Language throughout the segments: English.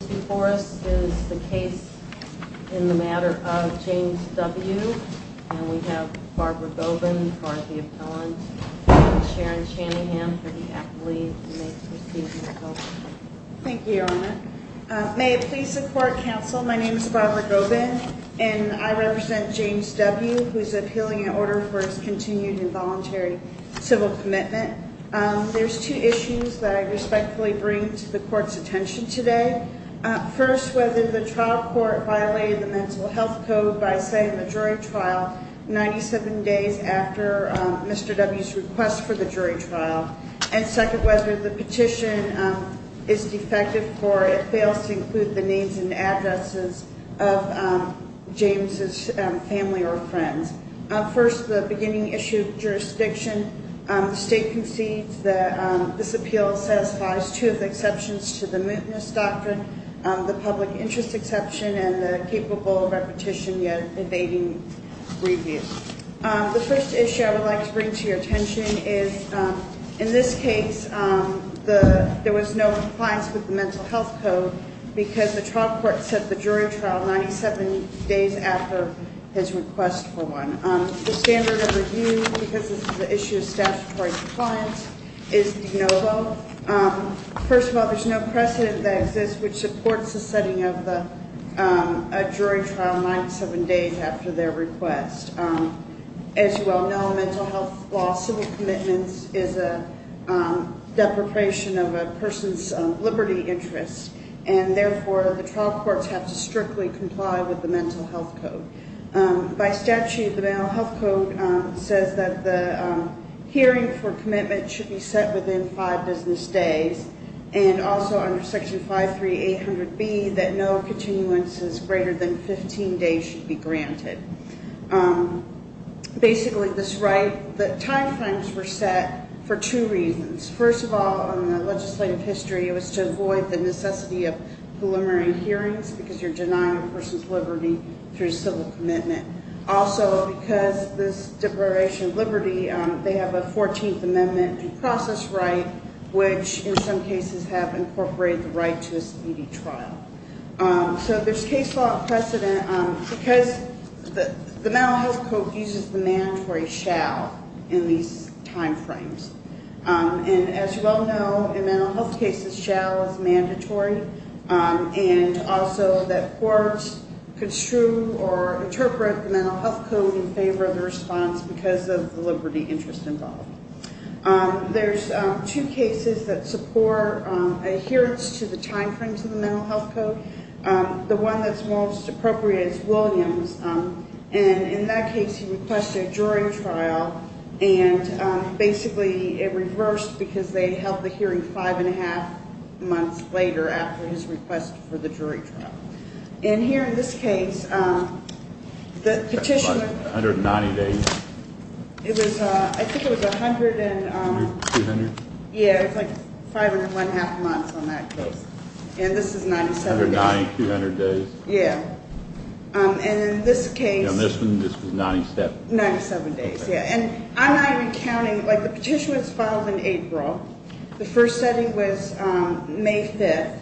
Before us is the case in the matter of James W, and we have Barbara Gobin, who's part of the appellant, and Sharon Channingham, who's the athlete, and they've received the appellant. Thank you, Your Honor. May it please the court, counsel, my name is Barbara Gobin, and I represent James W, who's appealing an order for his continued involuntary civil commitment. There's two issues that I respectfully bring to the court's attention today. First, whether the trial court violated the mental health code by saying the jury trial 97 days after Mr. W's request for the jury trial. And second, whether the petition is defective or it fails to include the names and addresses of James' family or friends. First, the beginning issue of jurisdiction, the state concedes that this appeal satisfies two of the exceptions to the mootness doctrine, the public interest exception and the capable repetition yet evading review. The first issue I would like to bring to your attention is, in this case, there was no compliance with the mental health code because the trial court said the jury trial 97 days after his request for one. The standard of review, because this is an issue of statutory compliance, is de novo. First of all, there's no precedent that exists which supports the setting of a jury trial 97 days after their request. As you well know, in mental health law, civil commitment is a deprecation of a person's liberty interest, and therefore the trial courts have to strictly comply with the mental health code. By statute, the mental health code says that the hearing for commitment should be set within five business days and also under section 53800B that no continuances greater than 15 days should be granted. Basically, this right, the timeframes were set for two reasons. First of all, in the legislative history, it was to avoid the necessity of preliminary hearings because you're denying a person's liberty through civil commitment. Also, because this deprecation of liberty, they have a 14th Amendment and process right, which in some cases have incorporated the right to a speedy trial. So there's case law precedent because the mental health code uses the mandatory shall in these timeframes. As you well know, in mental health cases, shall is mandatory, and also that courts construe or interpret the mental health code in favor of the response because of the liberty interest involved. There's two cases that support adherence to the timeframes of the mental health code. The one that's most appropriate is Williams. In that case, he requested a jury trial, and basically it reversed because they held the hearing five and a half months later after his request for the jury trial. Here in this case, the petitioner- That's like 190 days. I think it was 100 and- 200? Yeah, it was like five and one half months on that case. This is 97 days. 190, 200 days. Yeah. And in this case- This was 97. 97 days, yeah. And I'm not even counting- The petition was filed in April. The first setting was May 5th,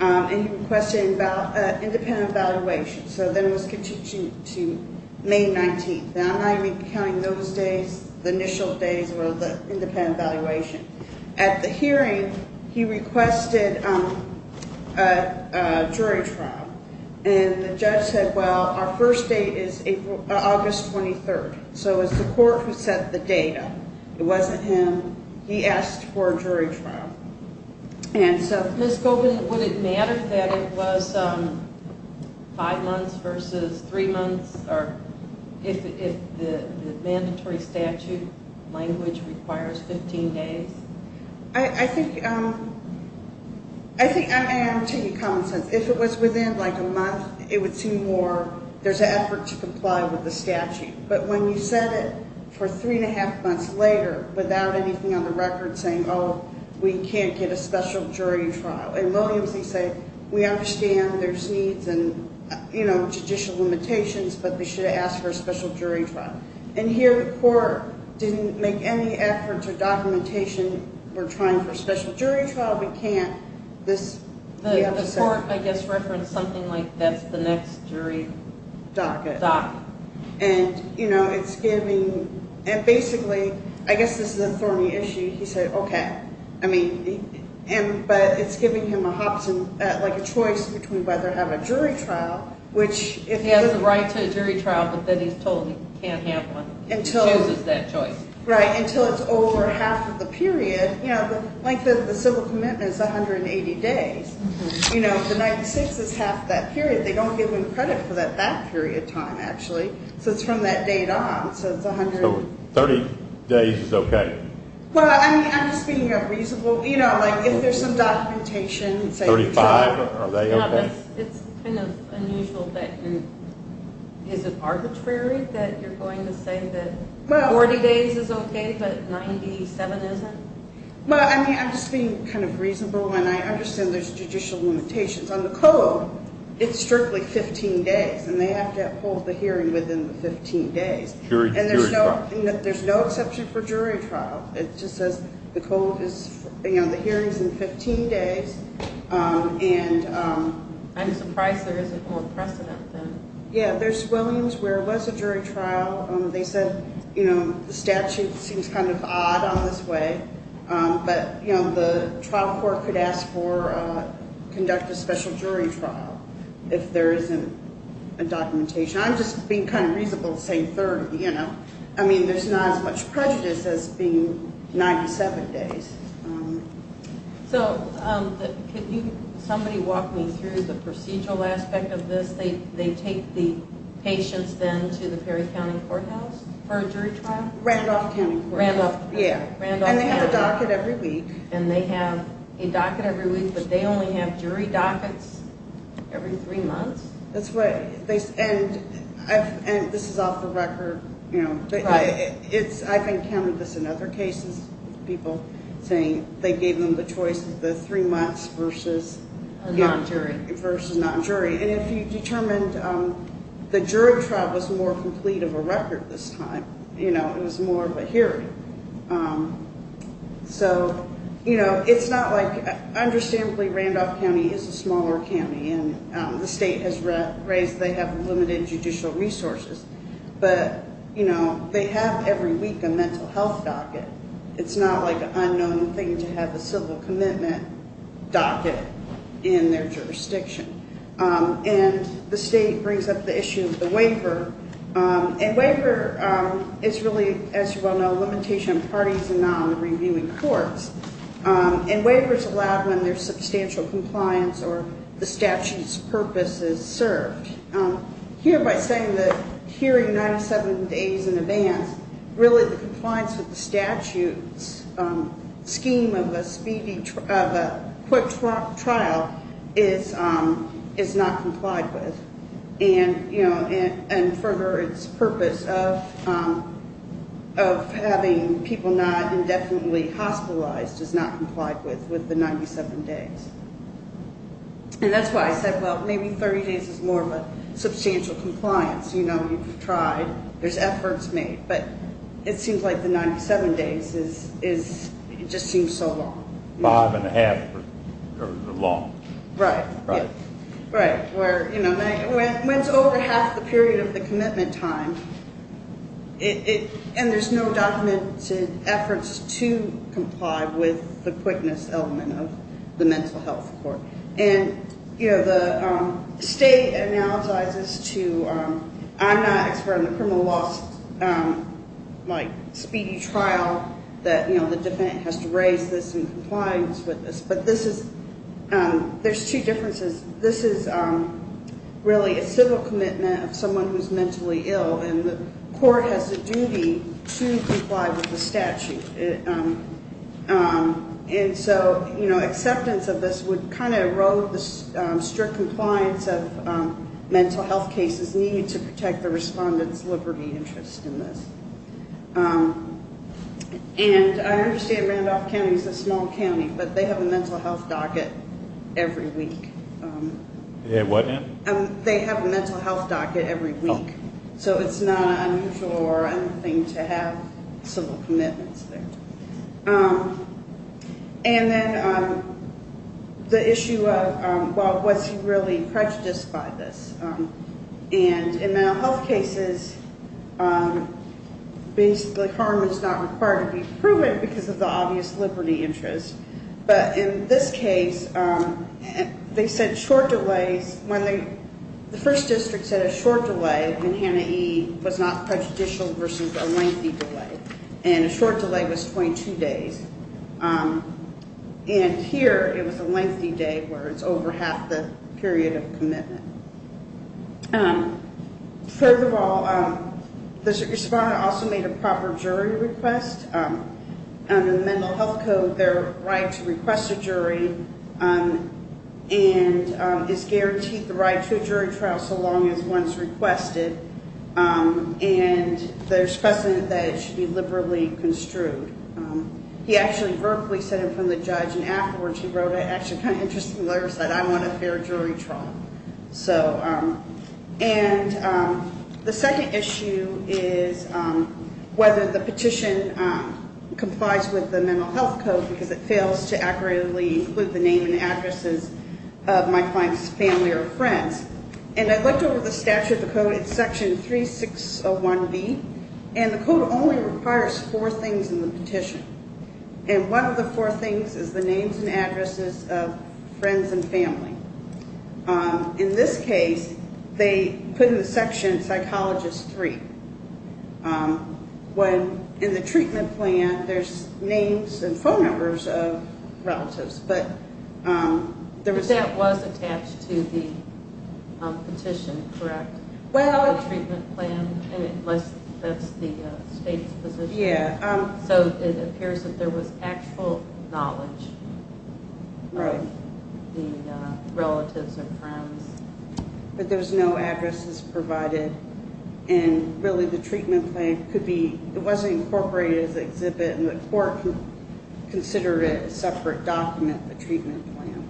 and he requested an independent evaluation. So then it was continued to May 19th. I'm not even counting those days, the initial days, or the independent evaluation. At the hearing, he requested a jury trial, and the judge said, well, our first date is August 23rd. So it was the court who set the date up. It wasn't him. He asked for a jury trial. And so- Ms. Goldman, would it matter that it was five months versus three months, if the mandatory statute language requires 15 days? I think I am taking common sense. If it was within, like, a month, it would seem more- There's an effort to comply with the statute. But when you set it for three and a half months later, without anything on the record saying, oh, we can't get a special jury trial, in Williams, he said, we understand there's needs and judicial limitations, but we should ask for a special jury trial. And here the court didn't make any efforts or documentation. We're trying for a special jury trial. We can't. The court, I guess, referenced something like that's the next jury docket. And, you know, it's giving- And basically, I guess this is a thorny issue. He said, okay. But it's giving him a choice between whether to have a jury trial, which- He has the right to a jury trial, but then he's told he can't have one. He chooses that choice. Right, until it's over half of the period. You know, like the civil commitment is 180 days. You know, the 96 is half that period. They don't give him credit for that that period of time, actually. So it's from that date on. So 30 days is okay. Well, I mean, I'm just being reasonable. You know, like if there's some documentation- 35, are they okay? No, it's kind of unusual. But is it arbitrary that you're going to say that 40 days is okay but 97 isn't? Well, I mean, I'm just being kind of reasonable, and I understand there's judicial limitations. On the code, it's strictly 15 days, and they have to hold the hearing within the 15 days. Jury trial. And there's no exception for jury trial. It just says the hearing is in 15 days, and- I'm surprised there isn't more precedent than- Yeah, there's Williams where it was a jury trial. They said, you know, the statute seems kind of odd on this way, but, you know, the trial court could ask for-conduct a special jury trial if there isn't a documentation. I'm just being kind of reasonable saying 30, you know. I mean, there's not as much prejudice as being 97 days. So could somebody walk me through the procedural aspect of this? They take the patients then to the Perry County Courthouse for a jury trial? Randolph County Courthouse. Randolph. Yeah, and they have a docket every week. And they have a docket every week, but they only have jury dockets every three months? That's right. And this is off the record, you know. I've encountered this in other cases, people saying they gave them the choice of the three months versus- Or non-jury. Versus non-jury. And if you determined the jury trial was more complete of a record this time, you know, it was more of a hearing. So, you know, it's not like- The state has raised they have limited judicial resources. But, you know, they have every week a mental health docket. It's not like an unknown thing to have a civil commitment docket in their jurisdiction. And the state brings up the issue of the waiver. And waiver is really, as you well know, a limitation on parties and not on the reviewing courts. And waiver is allowed when there's substantial compliance or the statute's purpose is served. Here, by saying that hearing 97 days in advance, really the compliance with the statute's scheme of a quick trial is not complied with. And further, it's purpose of having people not indefinitely hospitalized is not complied with, with the 97 days. And that's why I said, well, maybe 30 days is more of a substantial compliance. You know, we've tried. There's efforts made. But it seems like the 97 days just seems so long. Five and a half are long. Right. Right. Right. Where, you know, when it's over half the period of the commitment time, and there's no documented efforts to comply with the quickness element of the mental health court. And, you know, the state analyzes to, I'm not an expert on the criminal loss, like, speedy trial, that, you know, the defendant has to raise this in compliance with this. But this is, there's two differences. This is really a civil commitment of someone who's mentally ill, and the court has a duty to comply with the statute. And so, you know, acceptance of this would kind of erode the strict compliance of mental health cases needed to protect the respondent's liberty interest in this. And I understand Randolph County is a small county, but they have a mental health docket every week. They have what now? They have a mental health docket every week. Oh. So it's not unusual or anything to have civil commitments there. And then the issue of, well, was he really prejudiced by this? And in mental health cases, basically harm is not required to be proven because of the obvious liberty interest. But in this case, they said short delays. The first district said a short delay in Hanna E. was not prejudicial versus a lengthy delay. And a short delay was 22 days. And here, it was a lengthy day where it's over half the period of commitment. Furthermore, the respondent also made a proper jury request. Under the Mental Health Code, there are rights to request a jury, and it's guaranteed the right to a jury trial so long as one's requested. And there's precedent that it should be liberally construed. He actually verbally said it from the judge, and afterwards he wrote an actually kind of interesting letter. He said, I want a fair jury trial. And the second issue is whether the petition complies with the Mental Health Code because it fails to accurately include the name and addresses of my client's family or friends. It's section 3601B, and the code only requires four things in the petition. And one of the four things is the names and addresses of friends and family. In this case, they put in the section, Psychologist 3. In the treatment plan, there's names and phone numbers of relatives. But that was attached to the petition, correct? The treatment plan, and that's the state's position. So it appears that there was actual knowledge of the relatives and friends. But there was no addresses provided. And really, the treatment plan could be, it wasn't incorporated as an exhibit, and the court considered it a separate document, the treatment plan,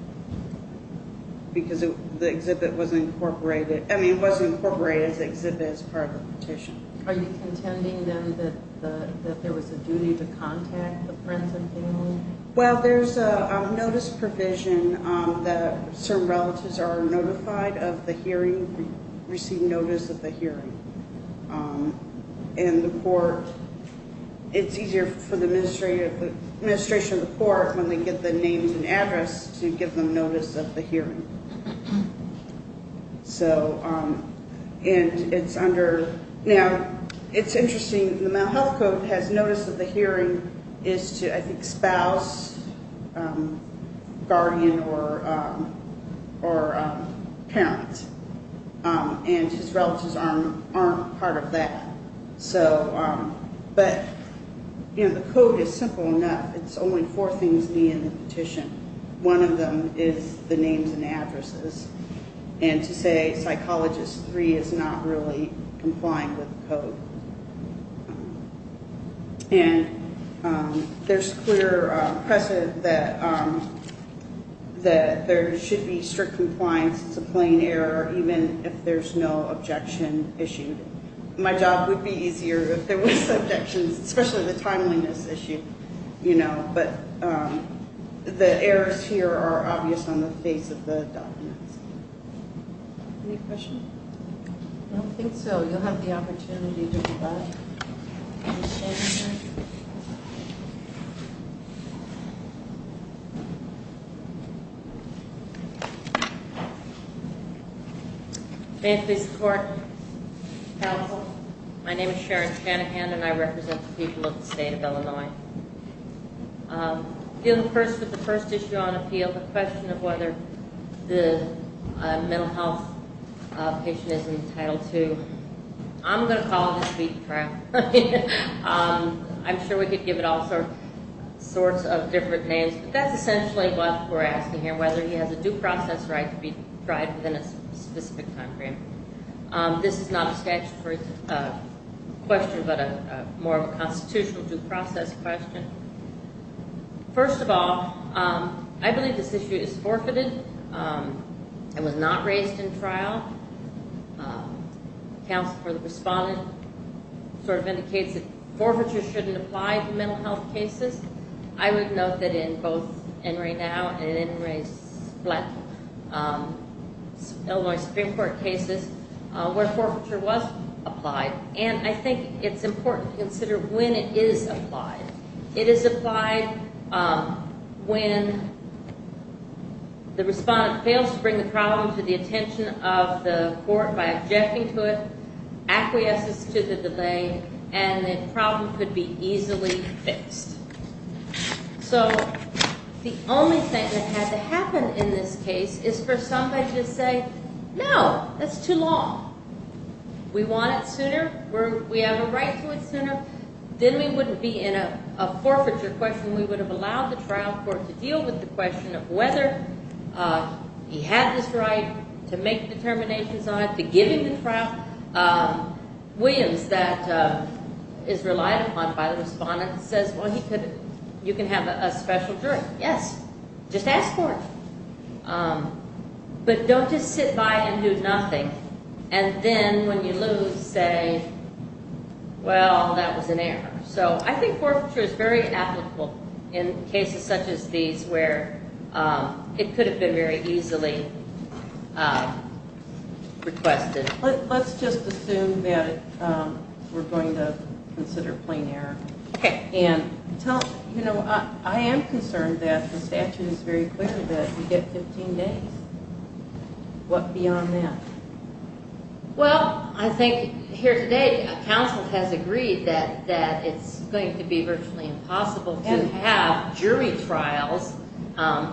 because the exhibit wasn't incorporated. I mean, it wasn't incorporated as an exhibit as part of the petition. Are you contending, then, that there was a duty to contact the friends and family? Well, there's a notice provision that certain relatives are notified of the hearing, receive notice of the hearing. And the court, it's easier for the administration of the court, when they get the names and address, to give them notice of the hearing. So, and it's under, now, it's interesting, the Mental Health Code has notice of the hearing is to, I think, spouse, guardian, or parent. And his relatives aren't part of that. So, but, you know, the code is simple enough. It's only four things needed in the petition. One of them is the names and addresses. And to say Psychologist 3 is not really complying with the code. And there's clear precedent that there should be strict compliance. It's a plain error, even if there's no objection issued. My job would be easier if there were subjections, especially the timeliness issue, you know. But the errors here are obvious on the face of the documents. Any questions? I don't think so. You'll have the opportunity to reply. Ms. Shanahan. May I please report? Counsel. My name is Sharon Shanahan, and I represent the people of the state of Illinois. In the first, with the first issue on appeal, the question of whether the mental health patient is entitled to, I'm going to call this the trial. I'm sure we could give it all sorts of different names. But that's essentially what we're asking here, whether he has a due process right to be tried within a specific time frame. This is not a statutory question, but a more of a constitutional due process question. First of all, I believe this issue is forfeited. It was not raised in trial. Counsel for the respondent sort of indicates that forfeiture shouldn't apply to mental health cases. I would note that in both NRA NOW and NRA's Illinois Supreme Court cases where forfeiture was applied. And I think it's important to consider when it is applied. It is applied when the respondent fails to bring the problem to the attention of the court by objecting to it, acquiesces to the delay, and the problem could be easily fixed. So the only thing that had to happen in this case is for somebody to say, no, that's too long. We want it sooner. We have a right to it sooner. Then we wouldn't be in a forfeiture question. We would have allowed the trial court to deal with the question of whether he had this right to make determinations on it, to give him the trial. Williams, that is relied upon by the respondent, says, well, you can have a special jury. Yes, just ask for it. But don't just sit by and do nothing. And then when you lose, say, well, that was an error. So I think forfeiture is very applicable in cases such as these where it could have been very easily requested. Let's just assume that we're going to consider plain error. Okay. You know, I am concerned that the statute is very clear that you get 15 days. What beyond that? Well, I think here today, counsel has agreed that it's going to be virtually impossible to have jury trials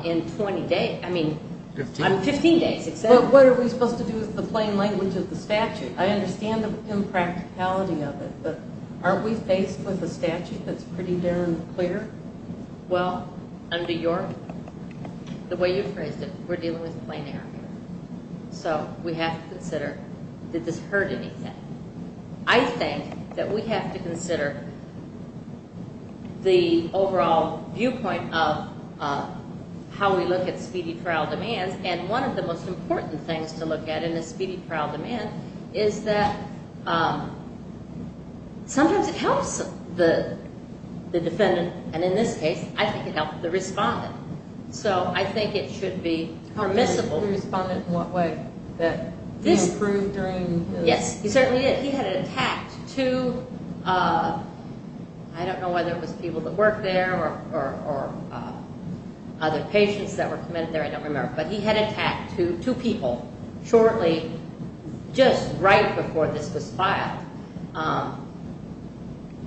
in 20 days. I mean, 15 days. But what are we supposed to do with the plain language of the statute? I understand the impracticality of it, but aren't we faced with a statute that's pretty darn clear? Well, under your, the way you phrased it, we're dealing with plain error. So we have to consider, did this hurt anything? I think that we have to consider the overall viewpoint of how we look at speedy trial demands. And one of the most important things to look at in a speedy trial demand is that sometimes it helps the defendant. And in this case, I think it helped the respondent. So I think it should be permissible. Helped the respondent in what way? That he improved during the trial? Yes, he certainly did. He had attacked two, I don't know whether it was people that worked there or other patients that were committed there. I don't remember. But he had attacked two people shortly, just right before this was filed.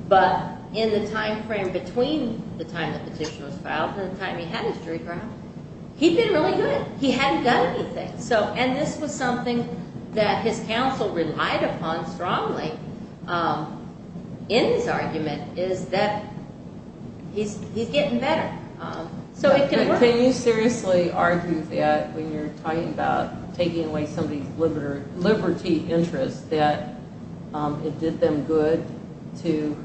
But in the timeframe between the time the petition was filed and the time he had his jury trial, he'd been really good. He hadn't done anything. And this was something that his counsel relied upon strongly in his argument is that he's getting better. Can you seriously argue that when you're talking about taking away somebody's liberty interest that it did them good to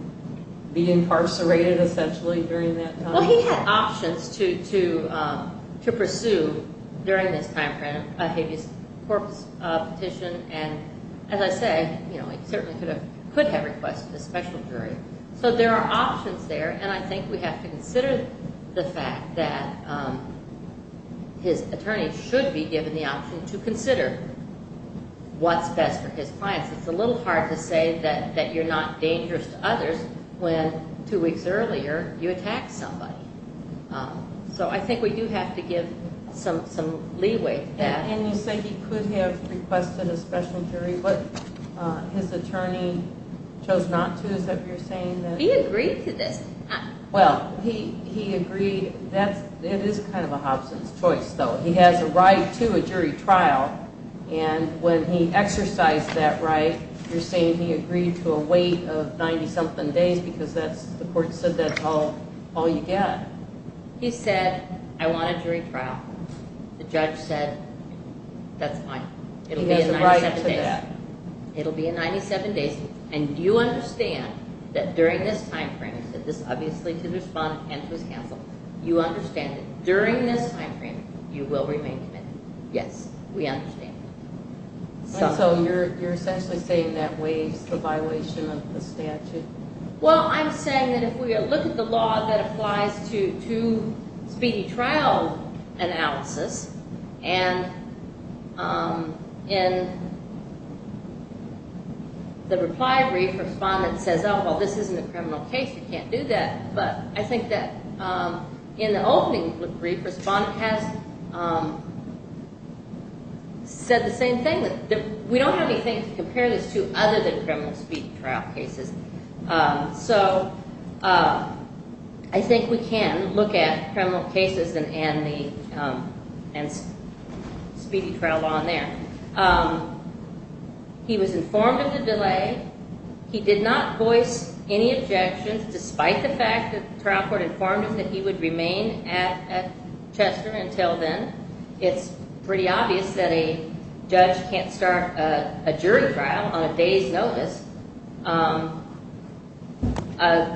be incarcerated essentially during that time? Well, he had options to pursue during this timeframe a habeas corpus petition. And as I say, he certainly could have requested a special jury. So there are options there, and I think we have to consider the fact that his attorney should be given the option to consider what's best for his clients. It's a little hard to say that you're not dangerous to others when two weeks earlier you attacked somebody. So I think we do have to give some leeway to that. And you say he could have requested a special jury, but his attorney chose not to. Is that what you're saying? He agreed to this. Well, he agreed. It is kind of a Hobson's choice, though. He has a right to a jury trial, and when he exercised that right, you're saying he agreed to a wait of 90-something days because the court said that's all you get. He said, I want a jury trial. The judge said, that's fine. He has a right to that. It'll be 97 days, and you understand that during this timeframe, and this obviously to the respondent and to his counsel, you understand that during this timeframe, you will remain committed. Yes, we understand that. So you're essentially saying that waives the violation of the statute? Well, I'm saying that if we look at the law that applies to speedy trial analysis, and in the reply brief, respondent says, oh, well, this isn't a criminal case. You can't do that. But I think that in the opening brief, respondent has said the same thing. We don't have anything to compare this to other than criminal speedy trial cases. So I think we can look at criminal cases and speedy trial law in there. He was informed of the delay. He did not voice any objections, despite the fact that the trial court informed him that he would remain at Chester until then. It's pretty obvious that a judge can't start a jury trial on a day's notice.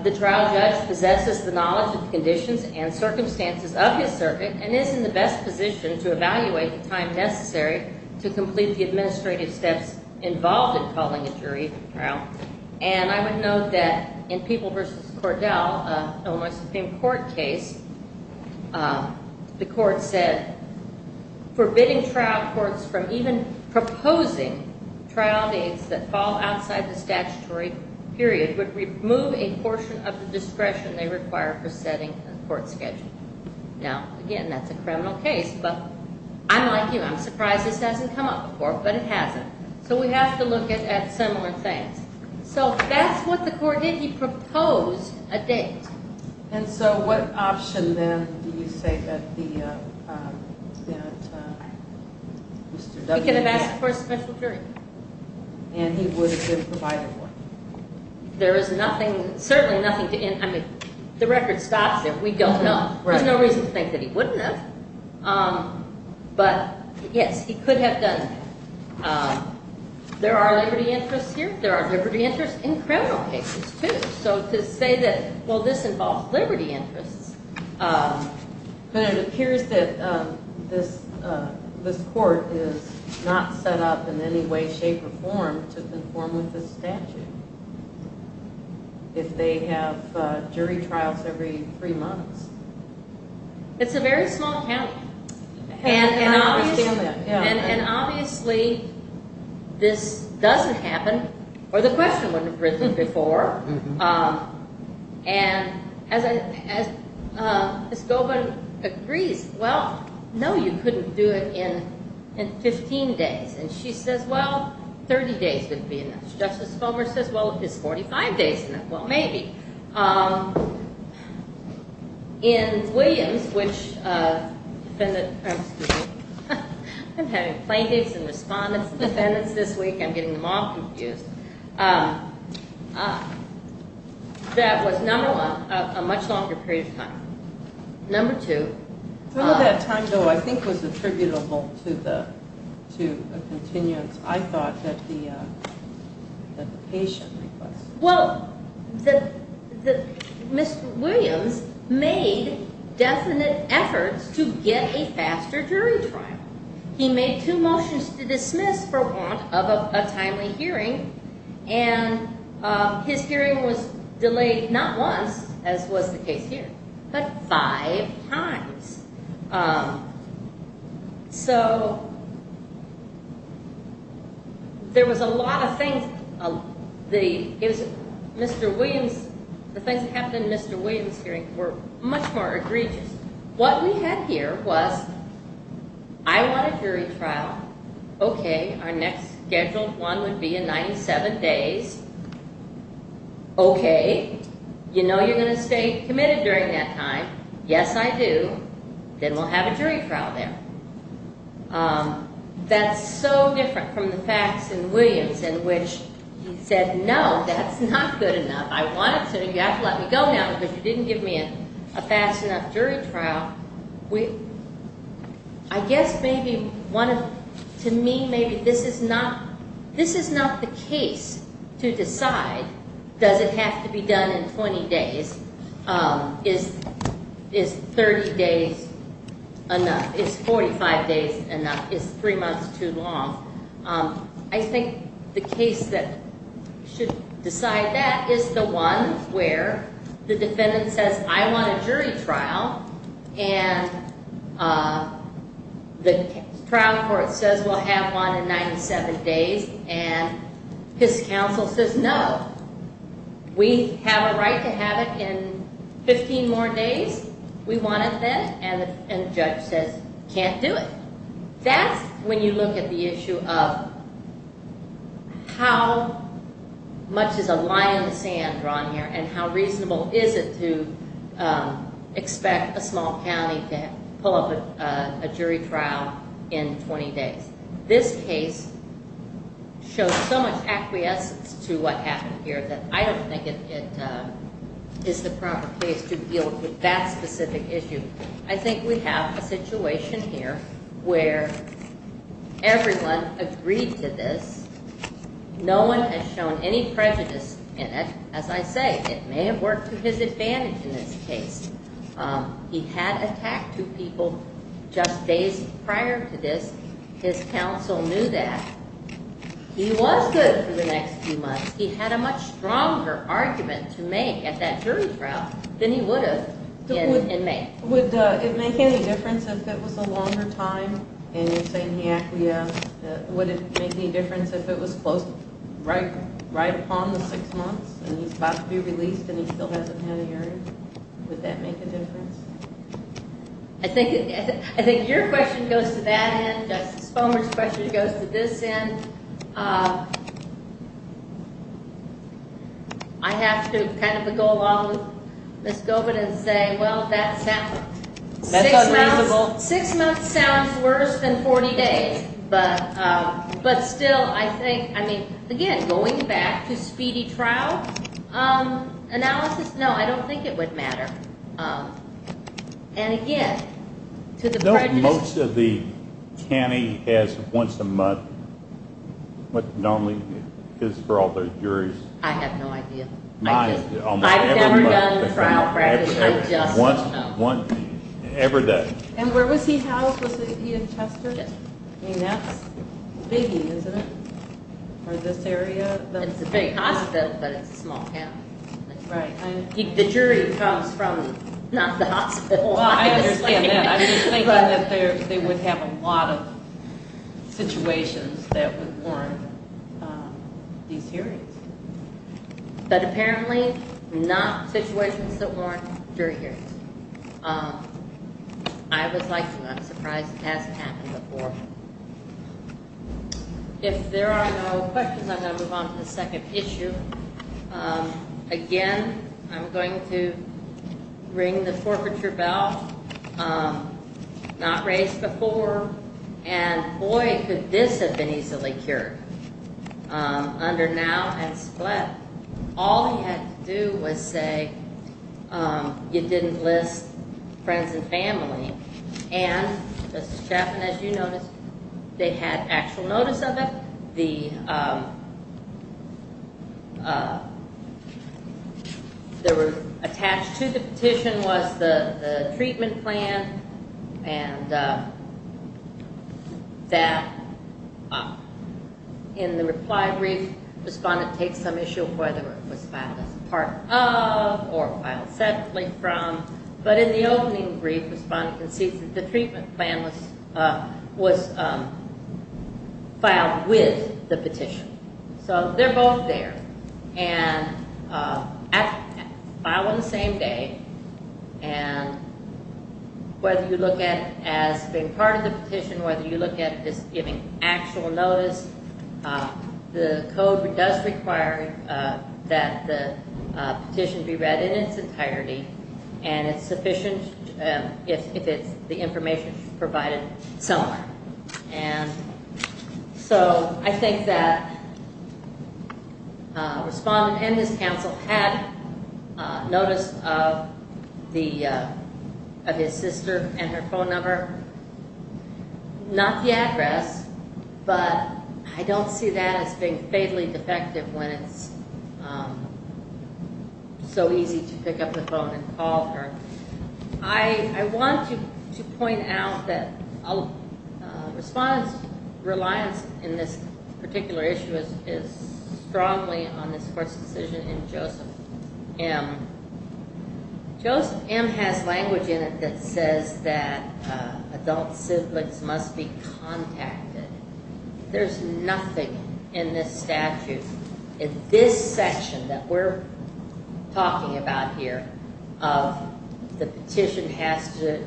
The trial judge possesses the knowledge of the conditions and circumstances of his circuit and is in the best position to evaluate the time necessary to complete the administrative steps involved in calling a jury trial. And I would note that in People v. Cordell, an Illinois Supreme Court case, the court said forbidding trial courts from even proposing trial dates that fall outside the statutory period would remove a portion of the discretion they require for setting a court schedule. Now, again, that's a criminal case. But I'm like you. I'm surprised this hasn't come up before. But it hasn't. So we have to look at similar things. So that's what the court did. He proposed a date. And so what option, then, do you say that Mr. W. He could have asked for a special jury. And he would have been provided one. There is nothing, certainly nothing to in, I mean, the record stops there. We don't know. There's no reason to think that he wouldn't have. But, yes, he could have done that. There are liberty interests here. There are liberty interests in criminal cases, too. So to say that, well, this involves liberty interests. But it appears that this court is not set up in any way, shape, or form to conform with the statute if they have jury trials every three months. It's a very small county. And obviously this doesn't happen, or the question wouldn't have arisen before. And as Ms. Goldman agrees, well, no, you couldn't do it in 15 days. And she says, well, 30 days wouldn't be enough. Justice Fulmer says, well, it's 45 days. Well, maybe. In Williams, which defendant, excuse me, I'm having plaintiffs and respondents and defendants this week. I'm getting them all confused. That was, number one, a much longer period of time. Number two. Some of that time, though, I think was attributable to a continuance, I thought, that the patient request. Well, Mr. Williams made definite efforts to get a faster jury trial. He made two motions to dismiss for want of a timely hearing. And his hearing was delayed not once, as was the case here, but five times. So there was a lot of things. The things that happened in Mr. Williams' hearing were much more egregious. What we had here was I want a jury trial. Okay, our next scheduled one would be in 97 days. Okay, you know you're going to stay committed during that time. Yes, I do. Then we'll have a jury trial there. That's so different from the facts in Williams in which he said, no, that's not good enough. I want it so you have to let me go now because you didn't give me a fast enough jury trial. I guess maybe to me maybe this is not the case to decide, does it have to be done in 20 days? Is 30 days enough? Is 45 days enough? Is three months too long? I think the case that should decide that is the one where the defendant says, I want a jury trial. And the trial court says we'll have one in 97 days. And his counsel says, no, we have a right to have it in 15 more days. We want it then. And the judge says, can't do it. That's when you look at the issue of how much is a line in the sand drawn here and how reasonable is it to expect a small county to pull up a jury trial in 20 days. This case shows so much acquiescence to what happened here that I don't think it is the proper case to deal with that specific issue. I think we have a situation here where everyone agreed to this. No one has shown any prejudice in it. As I say, it may have worked to his advantage in this case. He had attacked two people just days prior to this. His counsel knew that. He was good for the next few months. He had a much stronger argument to make at that jury trial than he would have in May. Would it make any difference if it was a longer time? And you're saying he acquiesced. Would it make any difference if it was right upon the six months and he's about to be released and he still hasn't had a hearing? Would that make a difference? I think your question goes to that end. Justice Bomer's question goes to this end. And I have to kind of go along with Ms. Gobin and say, well, that's unreasonable. Six months sounds worse than 40 days. But still, I think, I mean, again, going back to speedy trial analysis, no, I don't think it would matter. And, again, to the prejudice. Don't most of the county has once a month, what normally is for all the juries? I have no idea. I've never done trial prejudice. I just don't know. Once every day. And where was he housed? Was he in Chester? Yes. I mean, that's biggie, isn't it, for this area? It's a big hospital, but it's a small county. Right. The jury comes from not the hospital. Well, I understand that. I'm just thinking that they would have a lot of situations that would warrant these hearings. But apparently not situations that warrant jury hearings. I was like you. I'm surprised it hasn't happened before. If there are no questions, I'm going to move on to the second issue. Again, I'm going to ring the forfeiture bell. Not raised before. And, boy, could this have been easily cured. Under now and split, all he had to do was say you didn't list friends and family. And, Justice Chapman, as you noticed, they had actual notice of it. They were attached to the petition was the treatment plan and that in the reply brief, the respondent takes some issue of whether it was filed as part of or filed separately from. But in the opening brief, the respondent concedes that the treatment plan was filed with the petition. So they're both there and filed on the same day. And whether you look at it as being part of the petition, whether you look at it as giving actual notice, the code does require that the petition be read in its entirety. And it's sufficient if it's the information provided somewhere. And so I think that respondent and his counsel had notice of his sister and her phone number. Not the address, but I don't see that as being fatally defective when it's so easy to pick up the phone and call her. I want to point out that respondent's reliance in this particular issue is strongly on this court's decision in Joseph M. Joseph M. has language in it that says that adult siblings must be contacted. There's nothing in this statute, in this section that we're talking about here, of the petition has to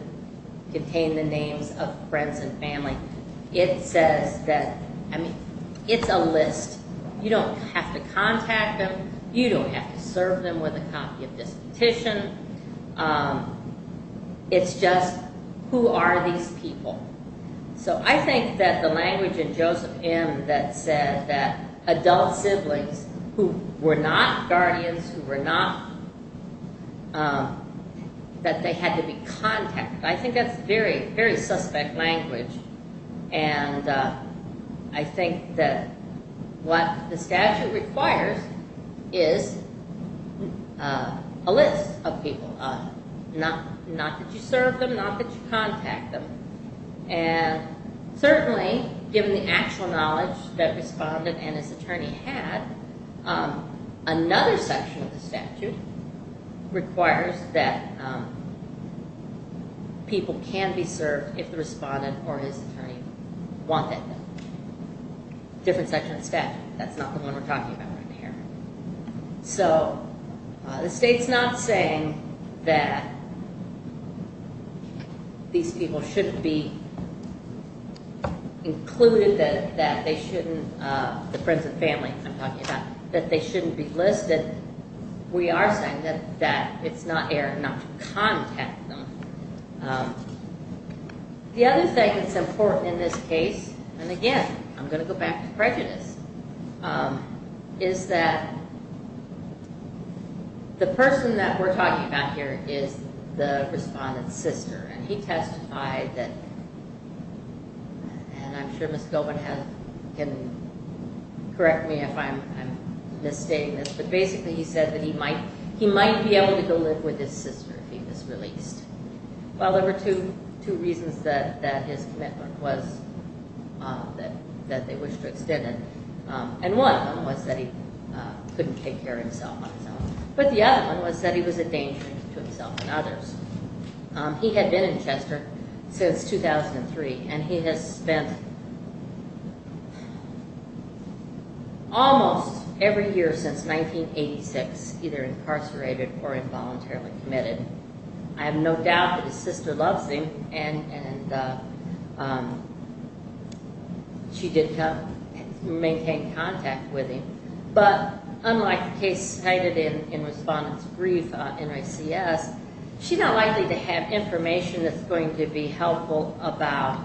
contain the names of friends and family. It says that, I mean, it's a list. You don't have to contact them. You don't have to serve them with a copy of this petition. It's just who are these people? So I think that the language in Joseph M. that said that adult siblings who were not guardians, who were not, that they had to be contacted. I think that's very, very suspect language. And I think that what the statute requires is a list of people. Not that you serve them, not that you contact them. And certainly, given the actual knowledge that respondent and his attorney had, another section of the statute requires that people can be served if the respondent or his attorney wanted them. Different section of the statute. That's not the one we're talking about right here. So the state's not saying that these people shouldn't be included, that they shouldn't, the friends and family I'm talking about, that they shouldn't be listed. We are saying that it's not errant not to contact them. The other thing that's important in this case, and again, I'm going to go back to prejudice, is that the person that we're talking about here is the respondent's sister. And he testified that, and I'm sure Ms. Goldman can correct me if I'm misstating this, but basically he said that he might be able to go live with his sister if he was released. Well, there were two reasons that his commitment was that they wished to extend it. And one of them was that he couldn't take care of himself on his own. But the other one was that he was a danger to himself and others. He had been in Chester since 2003, and he has spent almost every year since 1986 either incarcerated or involuntarily committed. I have no doubt that his sister loves him, and she did maintain contact with him. But unlike the case cited in Respondent's Brief on NICS, she's not likely to have information that's going to be helpful about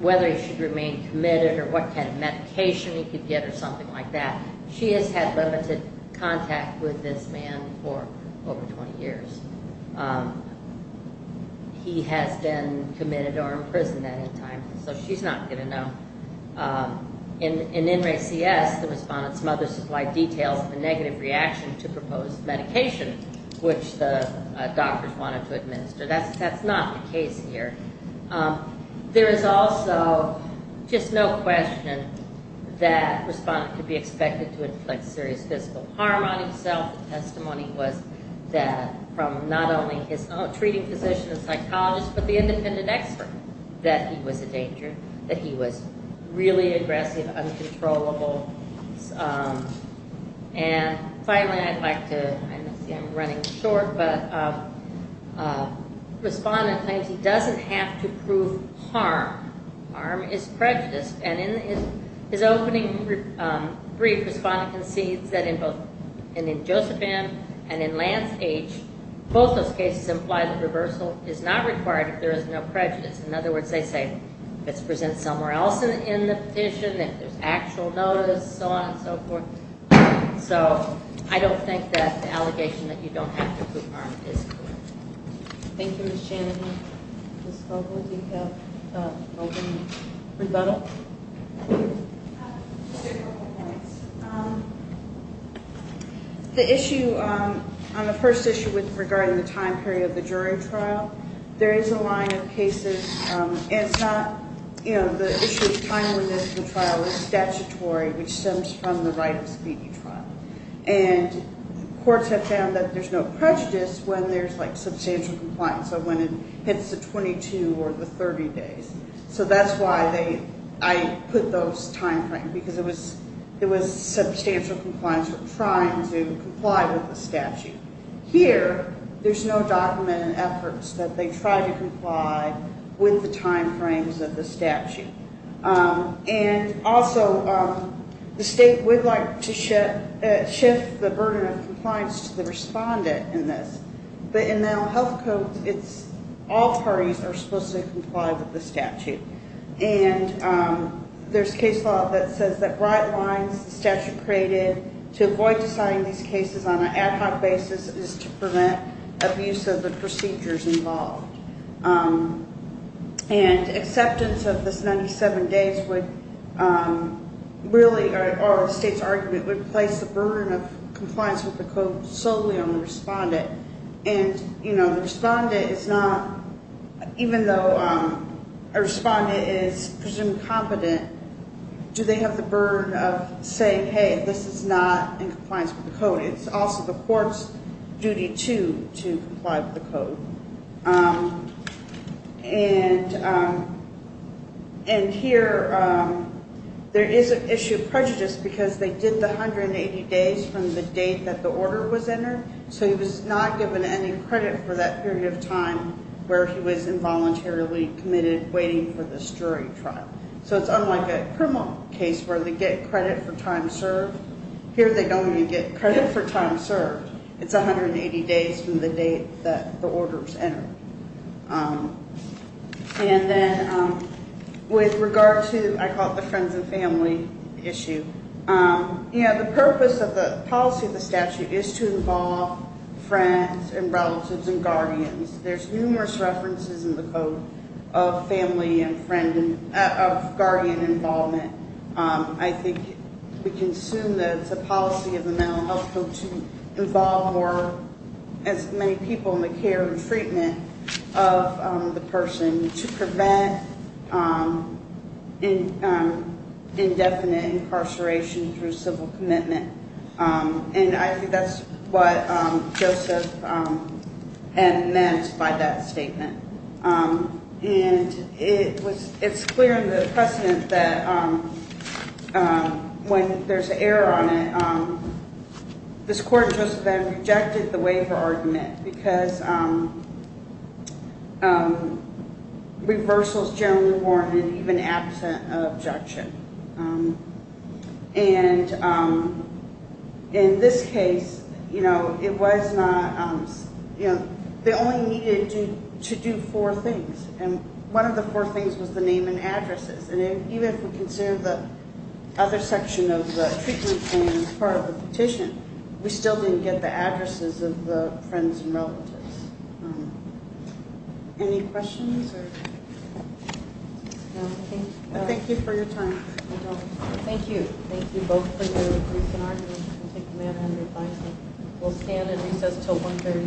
whether he should remain committed or what kind of medication he could get or something like that. She has had limited contact with this man for over 20 years. He has been committed or imprisoned at any time, so she's not going to know. In NRACS, the respondent's mother supplied details of a negative reaction to proposed medication, which the doctors wanted to administer. That's not the case here. There is also just no question that a respondent could be expected to inflict serious physical harm on himself. The testimony was that from not only his treating physician and psychologist, but the independent expert, that he was a danger, that he was really aggressive, uncontrollable. And finally, I'd like to, I'm running short, but Respondent claims he doesn't have to prove harm. Harm is prejudice. And in his opening brief, Respondent concedes that in both Joseph M. and in Lance H., both those cases imply that reversal is not required if there is no prejudice. In other words, they say if it's presented somewhere else in the petition, if there's actual notice, so on and so forth. So I don't think that the allegation that you don't have to prove harm is correct. Thank you, Ms. Shanahan. Ms. Vogel, do you have an opening rebuttal? I have several points. The issue, on the first issue regarding the time period of the jury trial, there is a line of cases, and it's not, you know, the issue of timeliness of the trial is statutory, which stems from the right of speedy trial. And courts have found that there's no prejudice when there's, like, substantial compliance, so when it hits the 22 or the 30 days. So that's why they, I put those timeframe, because it was substantial compliance, we're trying to comply with the statute. Here, there's no documented efforts that they try to comply with the timeframes of the statute. And also, the state would like to shift the burden of compliance to the respondent in this. But in the health code, it's all parties are supposed to comply with the statute. And there's case law that says that bright lines, the statute created, to avoid deciding these cases on an ad hoc basis is to prevent abuse of the procedures involved. And acceptance of this 97 days would really, or the state's argument, would place the burden of compliance with the code solely on the respondent. And, you know, the respondent is not, even though a respondent is presumed competent, do they have the burden of saying, hey, this is not in compliance with the code. It's also the court's duty, too, to comply with the code. And here, there is an issue of prejudice because they did the 180 days from the date that the order was entered, so he was not given any credit for that period of time where he was involuntarily committed, waiting for this jury trial. So it's unlike a criminal case where they get credit for time served. Here, they don't even get credit for time served. It's 180 days from the date that the order was entered. And then with regard to, I call it the friends and family issue, you know, the purpose of the policy of the statute is to involve friends and relatives and guardians. There's numerous references in the code of family and guardian involvement. I think we can assume that it's a policy of the Mental Health Code to involve as many people in the care and treatment of the person to prevent indefinite incarceration through civil commitment. And I think that's what Joseph M. meant by that statement. And it's clear in the precedent that when there's an error on it, this court just then rejected the waiver argument because reversal is generally warranted even absent of objection. And in this case, you know, it was not, you know, they only needed to do four things. And one of the four things was the name and addresses. And even if we consider the other section of the treatment plan as part of the petition, we still didn't get the addresses of the friends and relatives. Any questions? Thank you for your time. Thank you. Thank you both for your brief arguments. We'll stand and recess until 1.30.